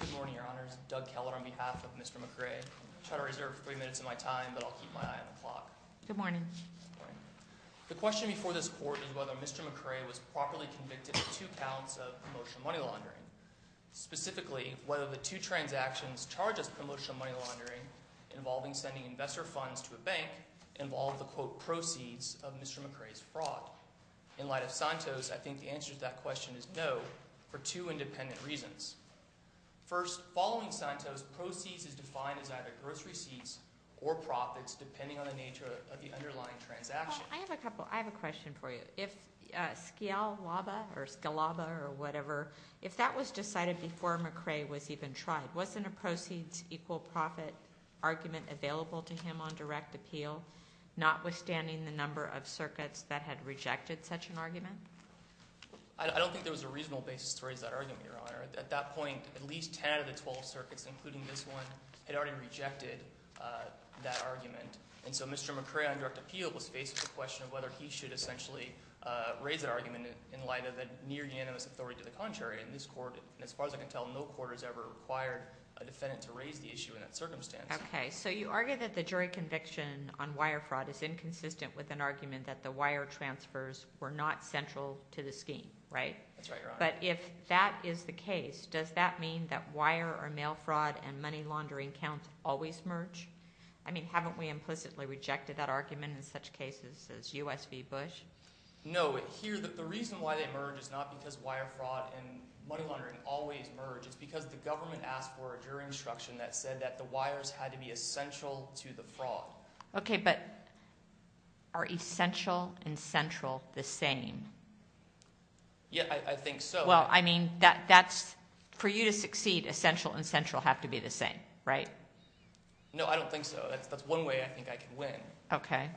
Good morning, Your Honors. Doug Keller on behalf of Mr. McCray. I'll try to reserve three minutes of my time, but I'll keep my eye on the clock. Good morning. Good morning. The question before this Court is whether Mr. McCray was properly convicted of two counts of promotional money laundering. Specifically, whether the two transactions charged as promotional money laundering involving sending investor funds to a bank involved the, quote, proceeds of Mr. McCray's fraud. In light of Santos, I think the answer to that question is no, for two independent reasons. First, following Santos, proceeds is defined as either gross receipts or profits, depending on the nature of the underlying transaction. Well, I have a couple, I have a question for you. If Scalaba or whatever, if that was decided before McCray was even tried, wasn't a proceeds equal profit argument available to him on direct appeal, notwithstanding the number of circuits that had rejected such an argument? I don't think there was a reasonable basis to raise that argument, Your Honor. At that point, at least ten out of the twelve circuits, including this one, had already rejected that argument. And so Mr. McCray on direct appeal was faced with the question of whether he should essentially raise that argument in light of the near unanimous authority to the contrary. And this Court, as far as I can tell, no court has ever required a defendant to raise the issue in that circumstance. Okay. So you argue that the jury conviction on wire fraud is inconsistent with an argument that the wire transfers were not central to the scheme, right? That's right, Your Honor. But if that is the case, does that mean that wire or mail fraud and money laundering counts always merge? I mean, haven't we implicitly rejected that argument in such cases as U.S. v. Bush? No. Here, the reason why they merge is not because wire fraud and money laundering always merge. It's because the government asked for a jury instruction that said that the wires had to be essential to the fraud. Okay. But are essential and central the same? Yeah, I think so. Well, I mean, that's, for you to succeed, essential and central have to be the same, right? No, I don't think so. That's one way I think I can win. Okay.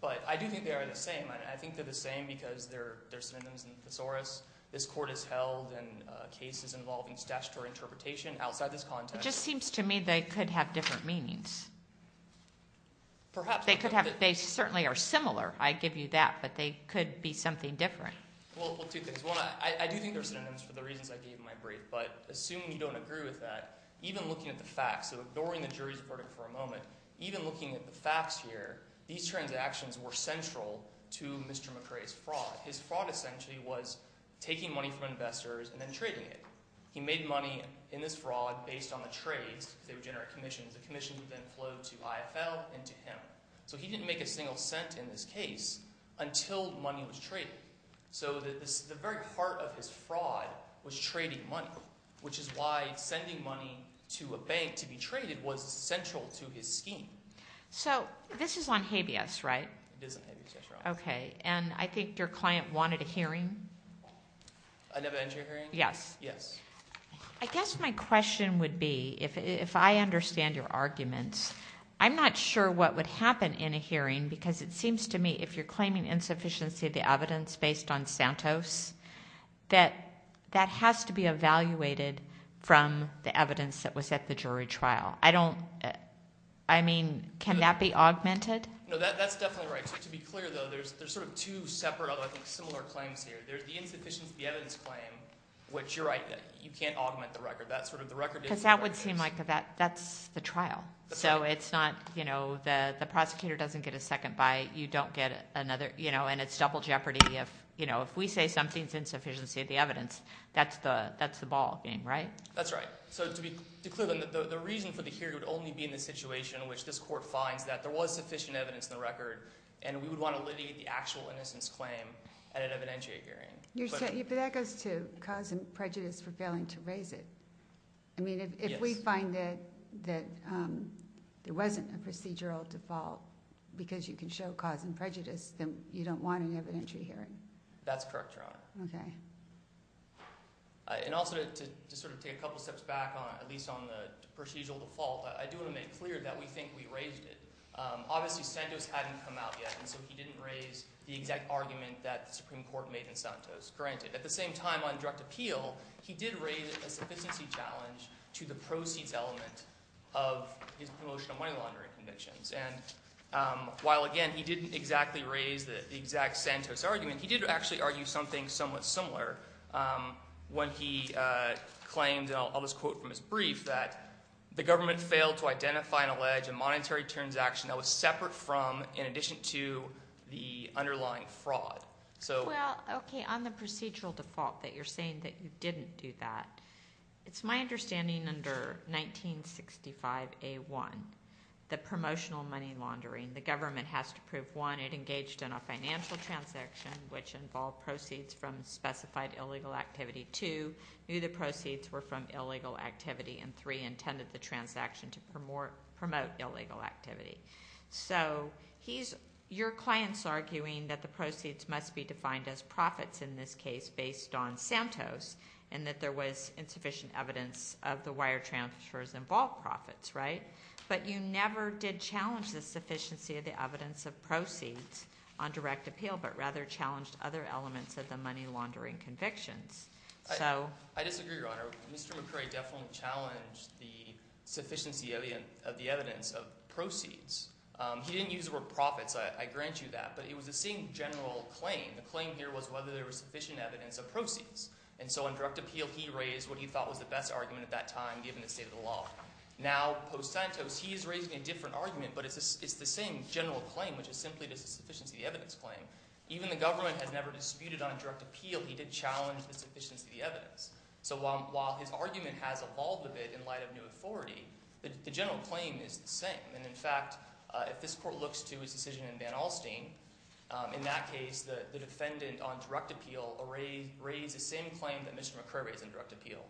But I do think they are the same. I think they're the same because they're synonyms and thesaurus. This Court has held in cases involving statutory interpretation outside this context. It just seems to me they could have different meanings. Perhaps. They certainly are similar. I give you that. But they could be something different. Well, two things. One, I do think they're synonyms for the reasons I gave in my brief. But assuming you don't agree with that, even looking at the facts, so ignoring the jury's verdict for a moment, even looking at the facts here, these transactions were central to Mr. McCrae's fraud. His fraud essentially was taking money from investors and then trading it. He made money in this fraud based on the trades. They would generate commissions. The commissions would then flow to IFL and to him. So he didn't make a single cent in this case until money was traded. So the very heart of his fraud was trading money, which is why sending money to a bank to be traded was central to his scheme. So this is on habeas, right? It is on habeas, yes, Your Honor. Okay. And I think your client wanted a hearing. I never entered a hearing? Yes. Yes. I guess my question would be, if I understand your arguments, I'm not sure what would happen in a hearing because it seems to me if you're claiming insufficiency of the evidence based on Santos, that that has to be evaluated from the evidence that was at the jury trial. I don't, I mean, can that be augmented? No, that's definitely right. So to be clear, though, there's sort of two separate, although similar claims here. There's the insufficiency of the evidence claim, which you're right, you can't augment the record. That's sort of the record. Because that would seem like that's the trial. So it's not, you know, the prosecutor doesn't get a second bite. You don't get another, you know, and it's double jeopardy if, you know, if we say something's insufficiency of the evidence, that's the ballgame, right? That's right. So to be clear, the reason for the hearing would only be in the situation in which this court finds that there was sufficient evidence in the record and we would want to claim at an evidentiary hearing. But that goes to cause and prejudice for failing to raise it. I mean, if we find that there wasn't a procedural default because you can show cause and prejudice, then you don't want an evidentiary hearing. That's correct, Your Honor. Okay. And also to sort of take a couple steps back on it, at least on the procedural default, I do want to make clear that we think we raised it. Obviously, Santos hadn't come out yet, and so he didn't raise the exact argument that the Supreme Court made in Santos, granted. At the same time, on direct appeal, he did raise a sufficiency challenge to the proceeds element of his promotional money laundering convictions. And while, again, he didn't exactly raise the exact Santos argument, he did actually argue something somewhat similar when he claimed, and I'll just quote from his brief, that the government failed to identify and allege a underlying fraud. Well, okay, on the procedural default that you're saying that you didn't do that, it's my understanding under 1965A1, the promotional money laundering, the government has to prove, one, it engaged in a financial transaction which involved proceeds from specified illegal activity, two, knew the proceeds were from illegal activity, and three, intended the clients arguing that the proceeds must be defined as profits in this case based on Santos and that there was insufficient evidence of the wire transfers involved profits, right? But you never did challenge the sufficiency of the evidence of proceeds on direct appeal, but rather challenged other elements of the money laundering convictions. I disagree, Your Honor. Mr. McCrae definitely challenged the sufficiency of the evidence of proceeds. He didn't use the word profits, I grant you that, but it was the same general claim. The claim here was whether there was sufficient evidence of proceeds, and so on direct appeal he raised what he thought was the best argument at that time given the state of the law. Now, post-Santos, he is raising a different argument, but it's the same general claim, which is simply the sufficiency of the evidence claim. Even the government has never disputed on direct appeal, he did challenge the sufficiency of the evidence. So while his argument has evolved a bit in light of new authority, the general claim is the same. And in fact, if this court looks to his decision in Van Alstyne, in that case the defendant on direct appeal raised the same claim that Mr. McCrae raised on direct appeal.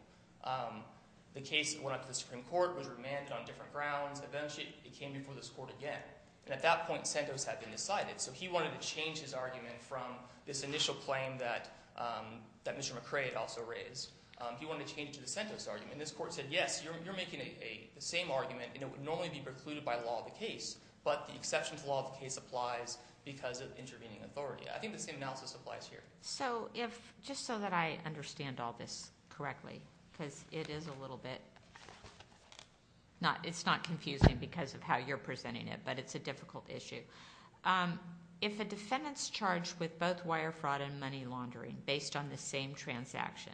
The case went up to the Supreme Court, was remanded on different grounds, eventually it came before this court again. And at that point Santos had been decided, so he wanted to change his argument from this initial claim that Mr. McCrae had also raised, he wanted to change it to the Santos argument. And this court said, yes, you're making the same argument and it would normally be precluded by law of the case, but the exception to law of the case applies because of intervening authority. I think the same analysis applies here. So if, just so that I understand all this correctly, because it is a little bit, it's not confusing because of how you're presenting it, but it's a difficult issue. If a defendant's charged with both wire fraud and money laundering based on the same transaction,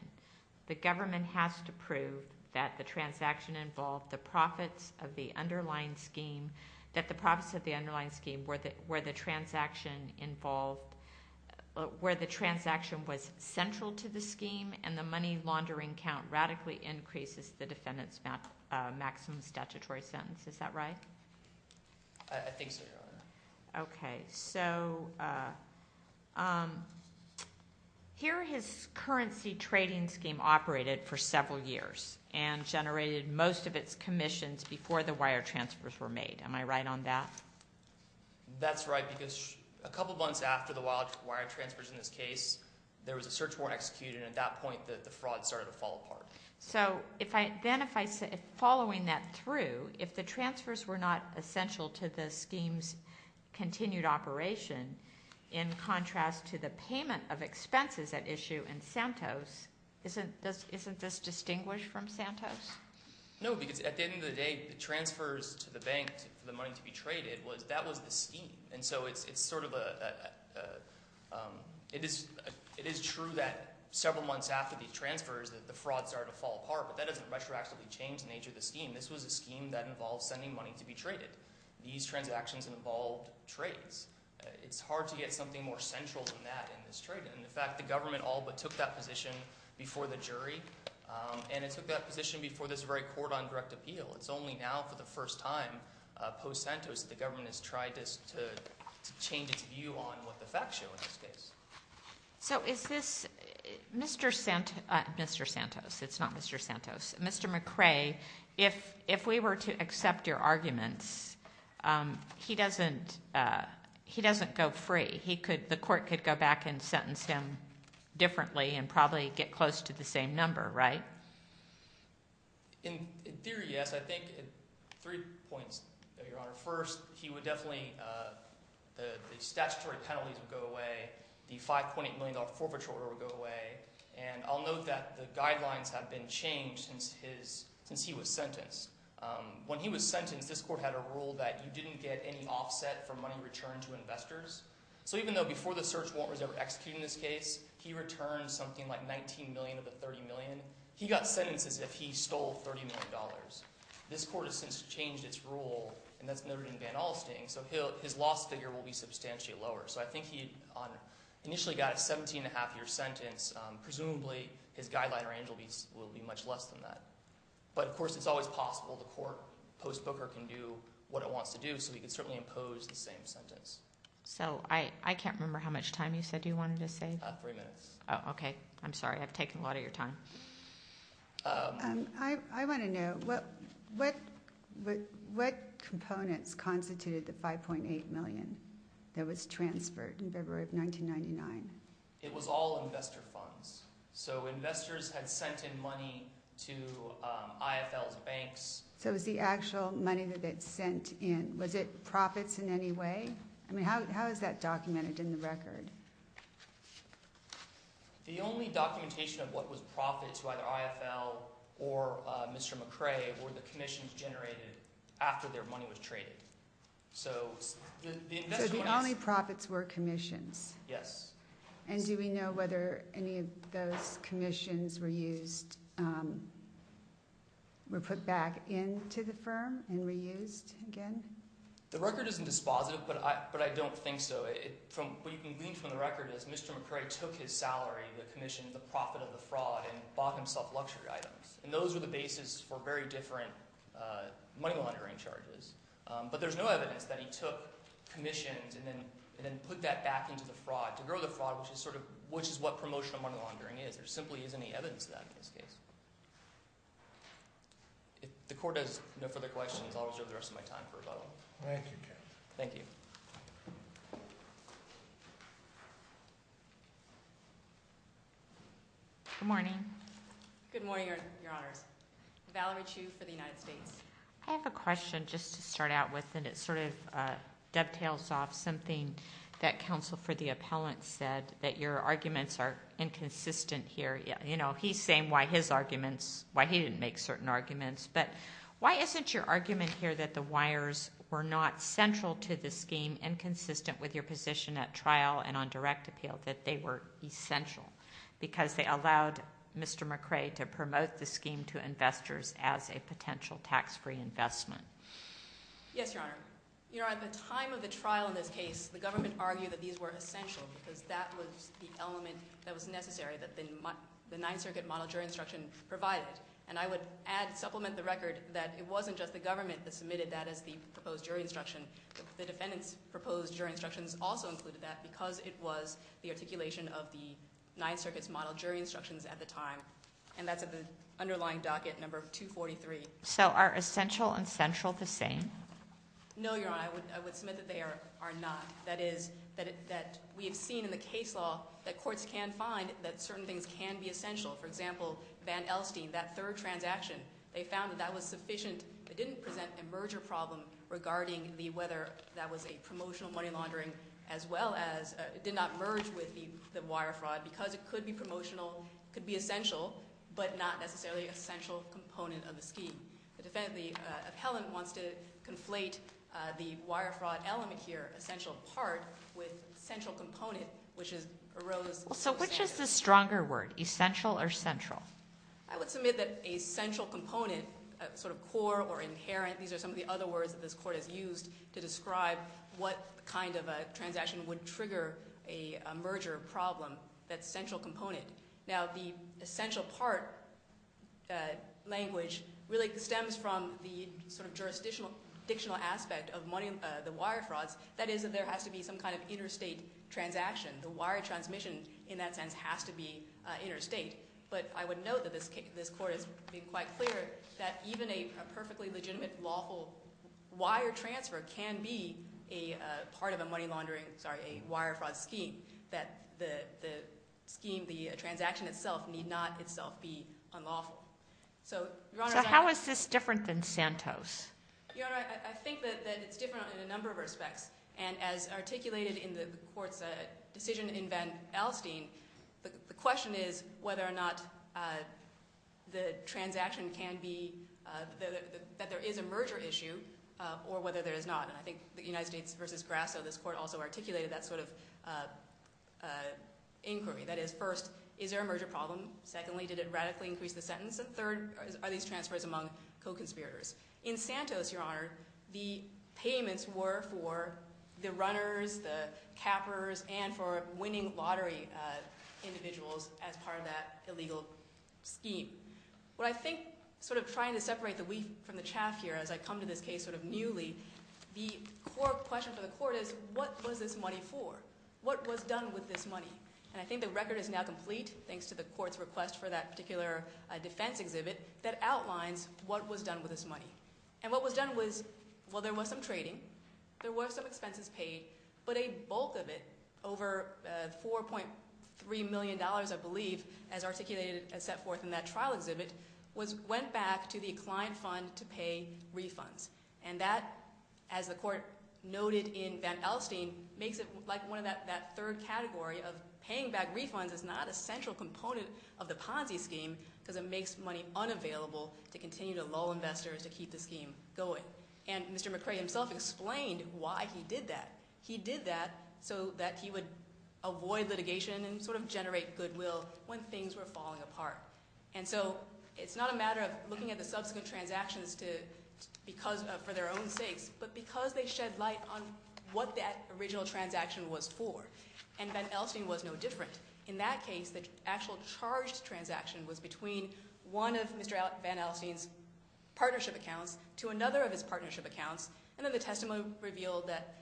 the government has to prove that the transaction involved the profits of the underlying scheme, that the profits of the underlying scheme where the transaction involved, where the transaction was central to the scheme and the money laundering count radically increases the defendant's maximum statutory sentence. Is that right? I think so, Your Honor. Okay. So here his currency trading scheme operated for several years and generated most of its commissions before the wire transfers were made. Am I right on that? That's right because a couple months after the wire transfers in this case, there was a search warrant executed and at that point the fraud started to fall apart. So then if I say, following that through, if the transfers were not essential to the scheme's continued operation in contrast to the payment of expenses at issue in Santos, isn't this distinguished from Santos? No, because at the end of the day, the transfers to the bank for the money to be traded, that was the scheme. And so it's sort of a – it is true that several months after these transfers that the fraud started to fall apart, but that doesn't retroactively change the nature of the scheme. This was a scheme that involved sending money to be traded. These transactions involved trades. It's hard to get something more central than that in this trade. And in fact, the government all but took that position before the jury and it took that position before this very court on direct appeal. It's only now for the first time post-Santos that the government has tried to change its view on what the facts show in this case. So is this – Mr. Santos – it's not Mr. Santos. Mr. McRae, if we were to accept your arguments, he doesn't go free. The court could go back and sentence him differently and probably get close to the same number, right? In theory, yes. I think three points, Your Honor. First, he would definitely – the statutory penalties would go away. The $5.8 million forfeiture order would go away. And I'll note that the guidelines have been changed since his – since he was sentenced. When he was sentenced, this court had a rule that you didn't get any offset from money returned to investors. So even though before the search warrant was ever executed in this case, he returned something like $19 million of the $30 million. He got sentences if he stole $30 million. This court has since changed its rule, and that's noted in Van Alsting. So his loss figure will be substantially lower. So I think he initially got a 17-and-a-half-year sentence. Presumably, his guideline or angel will be much less than that. But, of course, it's always possible the court post-Booker can do what it wants to do. So we can certainly impose the same sentence. So I can't remember how much time you said you wanted to save. About three minutes. Oh, okay. I'm sorry. I've taken a lot of your time. I want to know, what components constituted the $5.8 million that was transferred in February of 1999? It was all investor funds. So investors had sent in money to IFL's banks. So it was the actual money that they'd sent in. Was it profits in any way? I mean, how is that documented in the record? The only documentation of what was profit to either IFL or Mr. McRae were the commissions generated after their money was traded. So the only profits were commissions? Yes. And do we know whether any of those commissions were used, were put back into the firm and reused again? The record isn't dispositive, but I don't think so. What you can glean from the record is Mr. McRae took his salary, the commission, the profit of the fraud, and bought himself luxury items. And those were the basis for very different money laundering charges. But there's no evidence that he took commissions and then put that back into the fraud to grow the fraud, which is sort of – which is what promotional money laundering is. There simply isn't any evidence of that in this case. If the court has no further questions, I'll reserve the rest of my time for rebuttal. Thank you, Ken. Thank you. Good morning. Good morning, Your Honors. Valerie Chu for the United States. I have a question just to start out with, and it sort of dovetails off something that counsel for the appellant said, that your arguments are inconsistent here. You know, he's saying why his arguments – why he didn't make certain arguments. But why isn't your argument here that the wires were not central to the scheme and consistent with your position at trial and on direct appeal, that they were essential? Because they allowed Mr. McRae to promote the scheme to investors as a potential tax-free investment. Yes, Your Honor. Your Honor, at the time of the trial in this case, the government argued that these were essential because that was the element that was necessary that the Ninth Circuit model jury instruction provided. And I would add – supplement the record that it wasn't just the government that submitted that as the proposed jury instruction. The defendant's proposed jury instructions also included that because it was the articulation of the Ninth Circuit's model jury instructions at the time. And that's at the underlying docket, number 243. So are essential and central the same? No, Your Honor. I would submit that they are not. That is, that we have seen in the case law that courts can find that certain things can be essential. For example, Van Elstine, that third transaction, they found that that was sufficient. It didn't present a merger problem regarding the – whether that was a promotional money laundering as well as – it did not merge with the wire fraud because it could be promotional. It could be essential, but not necessarily an essential component of the scheme. The defendant, the appellant, wants to conflate the wire fraud element here, essential part, with central component, which is – arose. So which is the stronger word, essential or central? I would submit that a central component, sort of core or inherent – these are some of the other words that this court has used to describe what kind of a transaction would trigger a merger problem. That's central component. Now, the essential part language really stems from the sort of jurisdictional aspect of money – the wire frauds. That is that there has to be some kind of interstate transaction. The wire transmission in that sense has to be interstate. But I would note that this court has been quite clear that even a perfectly legitimate lawful wire transfer can be a part of a money laundering – sorry, a wire fraud scheme, that the scheme, the transaction itself need not itself be unlawful. So, Your Honor – So how is this different than Santos? Your Honor, I think that it's different in a number of respects. And as articulated in the court's decision in Van Elstine, the question is whether or not the transaction can be – that there is a merger issue or whether there is not. And I think the United States v. Grasso, this court, also articulated that sort of inquiry. That is, first, is there a merger problem? Secondly, did it radically increase the sentence? And third, are these transfers among co-conspirators? In Santos, Your Honor, the payments were for the runners, the cappers, and for winning lottery individuals as part of that illegal scheme. What I think sort of trying to separate the wheat from the chaff here as I come to this case sort of newly, the core question for the court is what was this money for? What was done with this money? And I think the record is now complete thanks to the court's request for that particular defense exhibit that outlines what was done with this money. And what was done was, well, there was some trading. There were some expenses paid. But a bulk of it, over $4.3 million, I believe, as articulated and set forth in that trial exhibit, went back to the client fund to pay refunds. And that, as the court noted in Van Elstein, makes it like one of that third category of paying back refunds is not a central component of the Ponzi scheme because it makes money unavailable to continue to lull investors to keep the scheme going. And Mr. McRae himself explained why he did that. He did that so that he would avoid litigation and sort of generate goodwill when things were falling apart. And so it's not a matter of looking at the subsequent transactions for their own sakes, but because they shed light on what that original transaction was for. And Van Elstein was no different. In that case, the actual charged transaction was between one of Mr. Van Elstein's partnership accounts to another of his partnership accounts. And then the testimony revealed that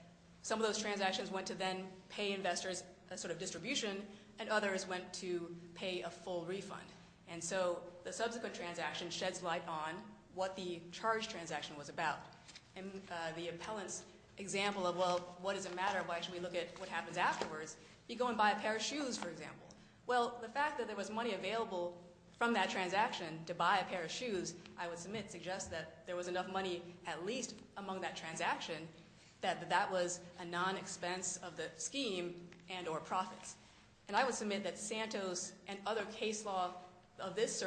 some of those transactions went to then pay investors a sort of distribution, and others went to pay a full refund. And so the subsequent transaction sheds light on what the charged transaction was about. And the appellant's example of, well, what does it matter? Why should we look at what happens afterwards? You go and buy a pair of shoes, for example. Well, the fact that there was money available from that transaction to buy a pair of shoes, I would submit suggests that there was enough money at least among that transaction that that was a non-expense of the scheme and or profits. And I would submit that Santos and other case law of this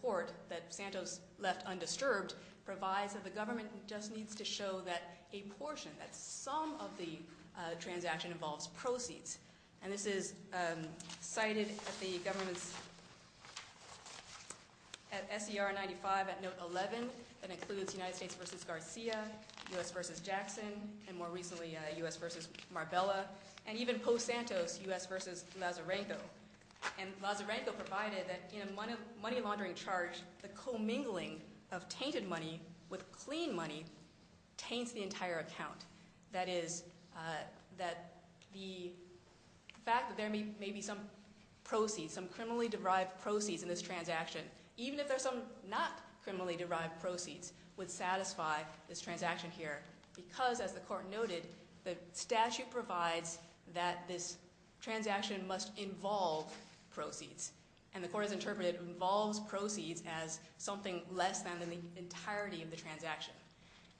court that Santos left undisturbed provides that the government just needs to show that a portion, that some of the transaction involves proceeds. And this is cited at the government's, at SER 95 at note 11, that includes United States v. Garcia, U.S. v. Jackson, and more recently U.S. v. Marbella, and even post-Santos, U.S. v. Lazarenko. And Lazarenko provided that in a money laundering charge, the commingling of tainted money with clean money taints the entire account. That is, that the fact that there may be some proceeds, some criminally-derived proceeds in this transaction, even if there's some not criminally-derived proceeds, would satisfy this transaction here. Because, as the court noted, the statute provides that this transaction must involve proceeds. And the court has interpreted involves proceeds as something less than the entirety of the transaction.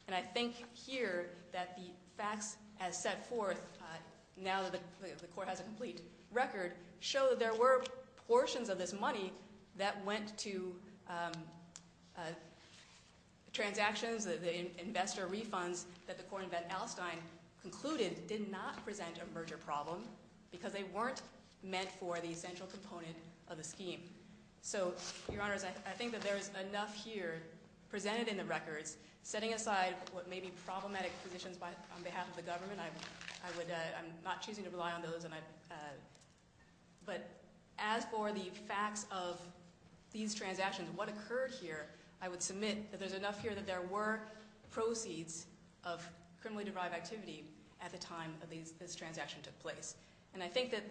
And I think here that the facts as set forth, now that the court has a complete record, show that there were portions of this money that went to transactions, the investor refunds that the court in Van Alstyne concluded did not present a merger problem, because they weren't meant for the essential component of the scheme. So, Your Honors, I think that there is enough here presented in the records. Setting aside what may be problematic positions on behalf of the government, I'm not choosing to rely on those. But as for the facts of these transactions, what occurred here, I would submit that there's enough here that there were proceeds of criminally-derived activity at the time that this transaction took place. And I think that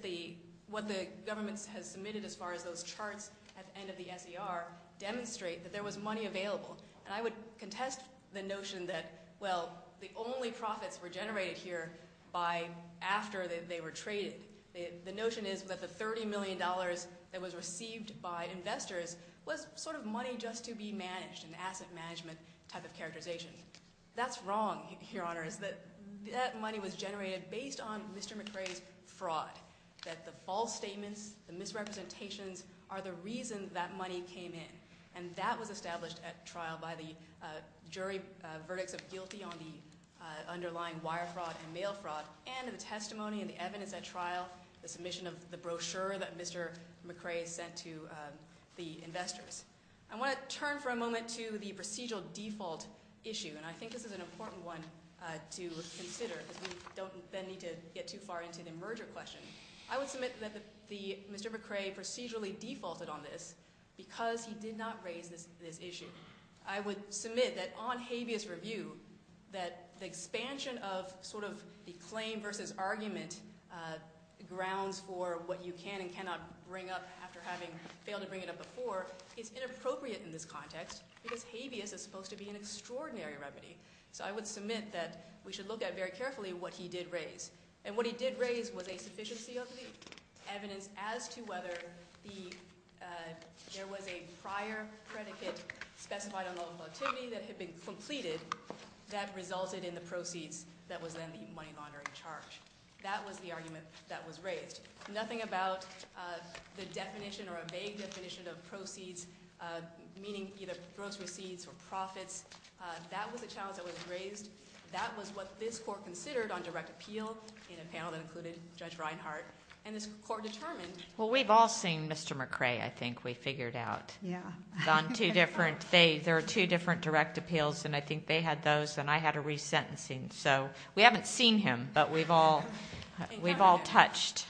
what the government has submitted as far as those charts at the end of the S.E.R. demonstrate that there was money available. And I would contest the notion that, well, the only profits were generated here by after they were traded. The notion is that the $30 million that was received by investors was sort of money just to be managed, an asset management type of characterization. That's wrong, Your Honors, that that money was generated based on Mr. McRae's fraud, that the false statements, the misrepresentations are the reason that money came in. And that was established at trial by the jury verdicts of guilty on the underlying wire fraud and mail fraud, and the testimony and the evidence at trial, the submission of the brochure that Mr. McRae sent to the investors. I want to turn for a moment to the procedural default issue, and I think this is an important one to consider because we don't then need to get too far into the merger question. I would submit that Mr. McRae procedurally defaulted on this because he did not raise this issue. I would submit that on habeas review that the expansion of sort of the claim versus argument grounds for what you can and cannot bring up after having failed to bring it up before is inappropriate in this context because habeas is supposed to be an extraordinary remedy. So I would submit that we should look at very carefully what he did raise. And what he did raise was a sufficiency of the evidence as to whether there was a prior predicate specified on loan volatility that had been completed that resulted in the proceeds that was then the money laundering charge. That was the argument that was raised. Nothing about the definition or a vague definition of proceeds, meaning either gross receipts or profits. That was a challenge that was raised. That was what this court considered on direct appeal in a panel that included Judge Reinhart, and this court determined Well, we've all seen Mr. McRae, I think we figured out. Yeah. There are two different direct appeals, and I think they had those, and I had a resentencing. So we haven't seen him, but we've all touched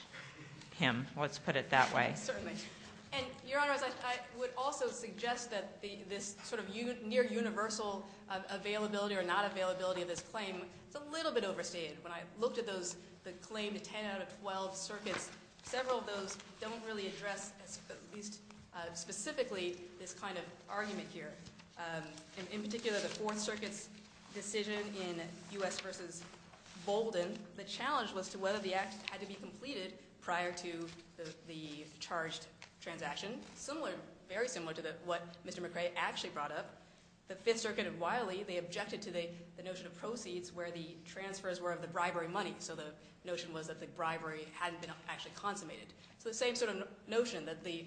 him. Let's put it that way. Certainly. And, Your Honor, I would also suggest that this sort of near universal availability or not availability of this claim is a little bit overstated. When I looked at the claim to 10 out of 12 circuits, several of those don't really address at least specifically this kind of argument here. In particular, the Fourth Circuit's decision in U.S. v. Bolden, the challenge was to whether the act had to be completed prior to the charged transaction. Very similar to what Mr. McRae actually brought up. The Fifth Circuit of Wiley, they objected to the notion of proceeds where the transfers were of the bribery money. So the notion was that the bribery hadn't been actually consummated. So the same sort of notion, that the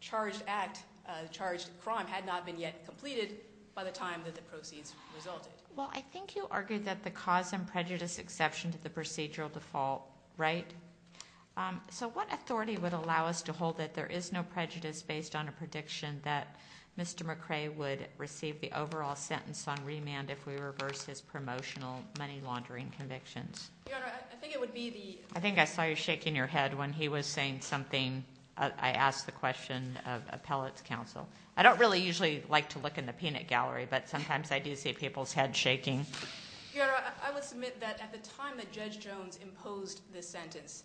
charged act, the charged crime, had not been yet completed by the time that the proceeds resulted. Well, I think you argued that the cause and prejudice exception to the procedural default, right? So what authority would allow us to hold that there is no prejudice based on a prediction that Mr. McRae would receive the overall sentence on remand if we reverse his promotional money laundering convictions? Your Honor, I think it would be the— I think I saw you shaking your head when he was saying something. I asked the question of appellate's counsel. I don't really usually like to look in the peanut gallery, but sometimes I do see people's heads shaking. Your Honor, I would submit that at the time that Judge Jones imposed this sentence,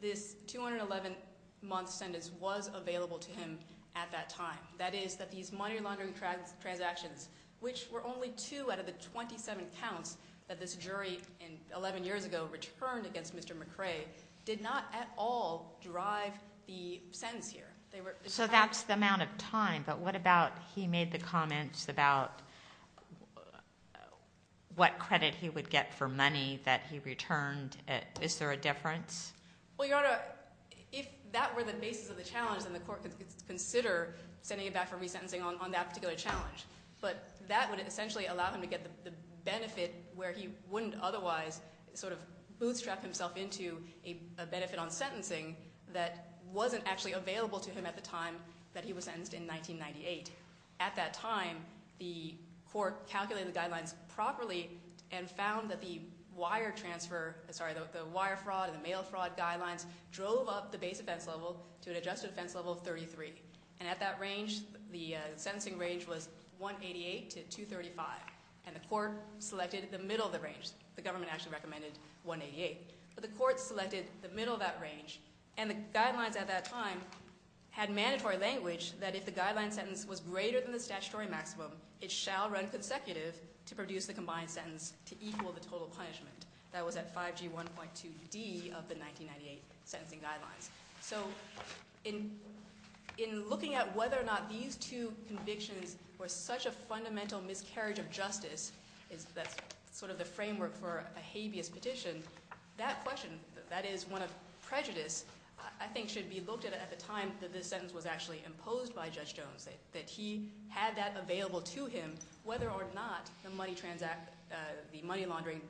this 211-month sentence was available to him at that time. That is that these money laundering transactions, which were only two out of the 27 counts that this jury 11 years ago returned against Mr. McRae, did not at all drive the sentence here. So that's the amount of time. But what about he made the comments about what credit he would get for money that he returned? Is there a difference? Well, Your Honor, if that were the basis of the challenge, then the court could consider sending him back for resentencing on that particular challenge. But that would essentially allow him to get the benefit where he wouldn't otherwise sort of bootstrap himself into a benefit on sentencing that wasn't actually available to him at the time that he was sentenced in 1998. At that time, the court calculated the guidelines properly and found that the wire transfer – sorry, the wire fraud and the mail fraud guidelines drove up the base offense level to an adjusted offense level of 33. And at that range, the sentencing range was 188 to 235. And the court selected the middle of the range. The government actually recommended 188. But the court selected the middle of that range. And the guidelines at that time had mandatory language that if the guideline sentence was greater than the statutory maximum, it shall run consecutive to produce the combined sentence to equal the total punishment. That was at 5G 1.2D of the 1998 sentencing guidelines. So in looking at whether or not these two convictions were such a fundamental miscarriage of justice – that's sort of the framework for a habeas petition – that question, that is one of prejudice, I think should be looked at at the time that this sentence was actually imposed by Judge Jones. That he had that available to him whether or not the money laundering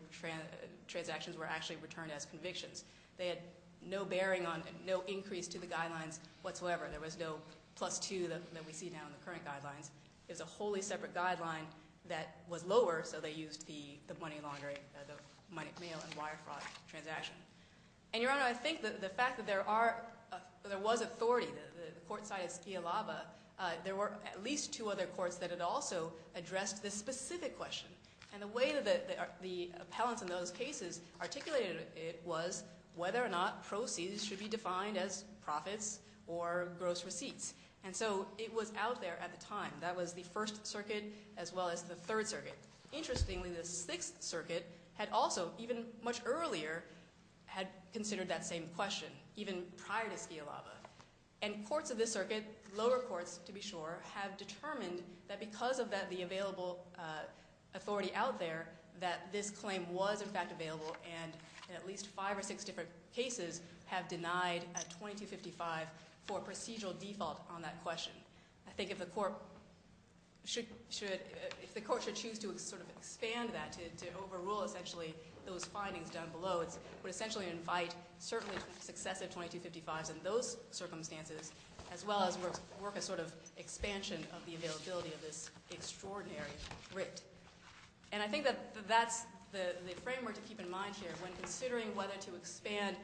transactions were actually returned as convictions. They had no bearing on – no increase to the guidelines whatsoever. There was no plus two that we see now in the current guidelines. It was a wholly separate guideline that was lower, so they used the money laundering – the mail and wire fraud transaction. And, Your Honor, I think that the fact that there are – there was authority, the court side of Skialaba, there were at least two other courts that had also addressed this specific question. And the way that the appellants in those cases articulated it was whether or not proceeds should be defined as profits or gross receipts. And so it was out there at the time. That was the First Circuit as well as the Third Circuit. Interestingly, the Sixth Circuit had also, even much earlier, had considered that same question even prior to Skialaba. And courts of this circuit, lower courts to be sure, have determined that because of the available authority out there that this claim was in fact available. And at least five or six different cases have denied at 2255 for procedural default on that question. I think if the court should choose to sort of expand that, to overrule essentially those findings down below, it would essentially invite certainly successive 2255s in those circumstances as well as work a sort of expansion of the availability of this extraordinary writ. And I think that that's the framework to keep in mind here when considering whether to expand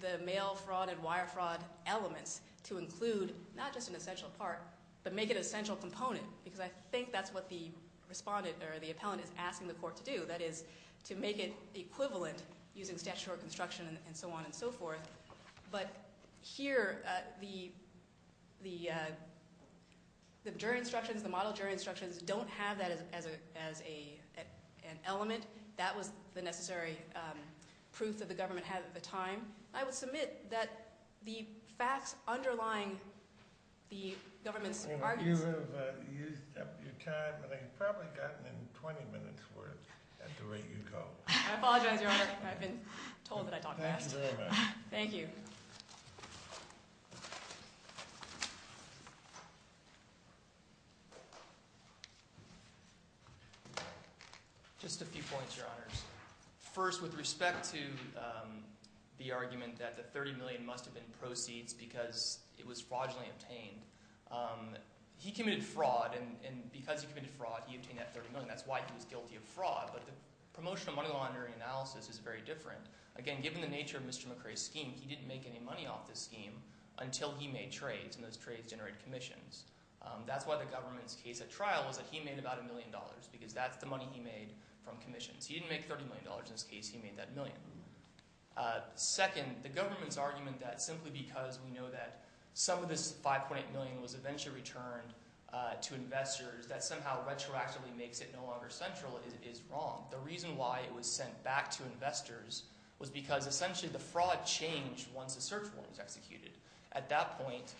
the mail fraud and wire fraud elements to include not just an essential part, but make it an essential component, because I think that's what the respondent or the appellant is asking the court to do, that is to make it equivalent using statutory construction and so on and so forth. But here, the jury instructions, the model jury instructions, don't have that as an element. That was the necessary proof that the government had at the time. I would submit that the facts underlying the government's arguments— You have used up your time, and I've probably gotten in 20 minutes worth at the rate you go. I apologize, Your Honor. I've been told that I talk fast. Thank you very much. Thank you. Just a few points, Your Honors. First, with respect to the argument that the $30 million must have been proceeds because it was fraudulently obtained, he committed fraud, and because he committed fraud, he obtained that $30 million. That's why he was guilty of fraud. But the promotional money laundering analysis is very different. Again, given the nature of Mr. McCrae's scheme, he didn't make any money off this scheme until he made trades, and those trades generated commissions. That's why the government's case at trial was that he made about a million dollars, because that's the money he made from commissions. He didn't make $30 million. In this case, he made that million. Second, the government's argument that simply because we know that some of this $5.8 million was eventually returned to investors, that somehow retroactively makes it no longer central is wrong. The reason why it was sent back to investors was because essentially the fraud changed once the search warrant was executed. At that point,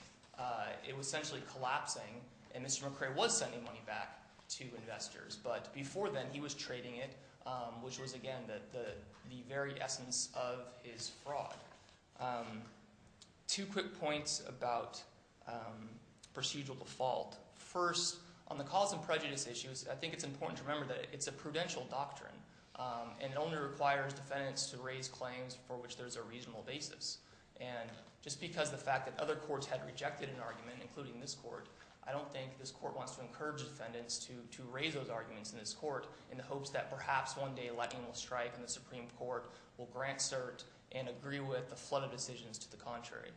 it was essentially collapsing, and Mr. McCrae was sending money back to investors. But before then, he was trading it, which was, again, the very essence of his fraud. Two quick points about procedural default. First, on the cause and prejudice issues, I think it's important to remember that it's a prudential doctrine, and it only requires defendants to raise claims for which there's a reasonable basis. And just because the fact that other courts had rejected an argument, including this court, I don't think this court wants to encourage defendants to raise those arguments in this court in the hopes that perhaps one day Lightning will strike and the Supreme Court will grant cert and agree with the flood of decisions to the contrary.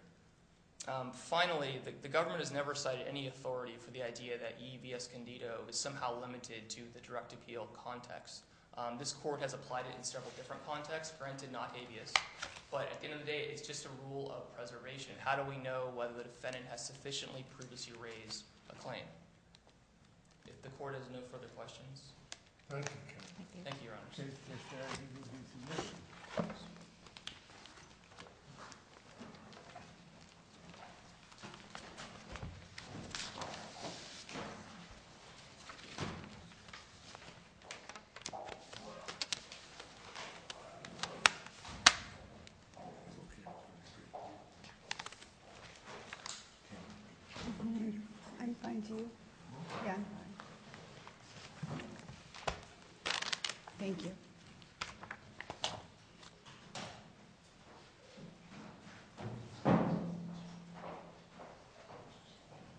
Finally, the government has never cited any authority for the idea that E. E. V. Escondido is somehow limited to the direct appeal context. This court has applied it in several different contexts, granted not habeas, but at the end of the day, it's just a rule of preservation. How do we know whether the defendant has sufficiently previously raised a claim? If the court has no further questions. Thank you, Your Honor. Thank you. Thank you.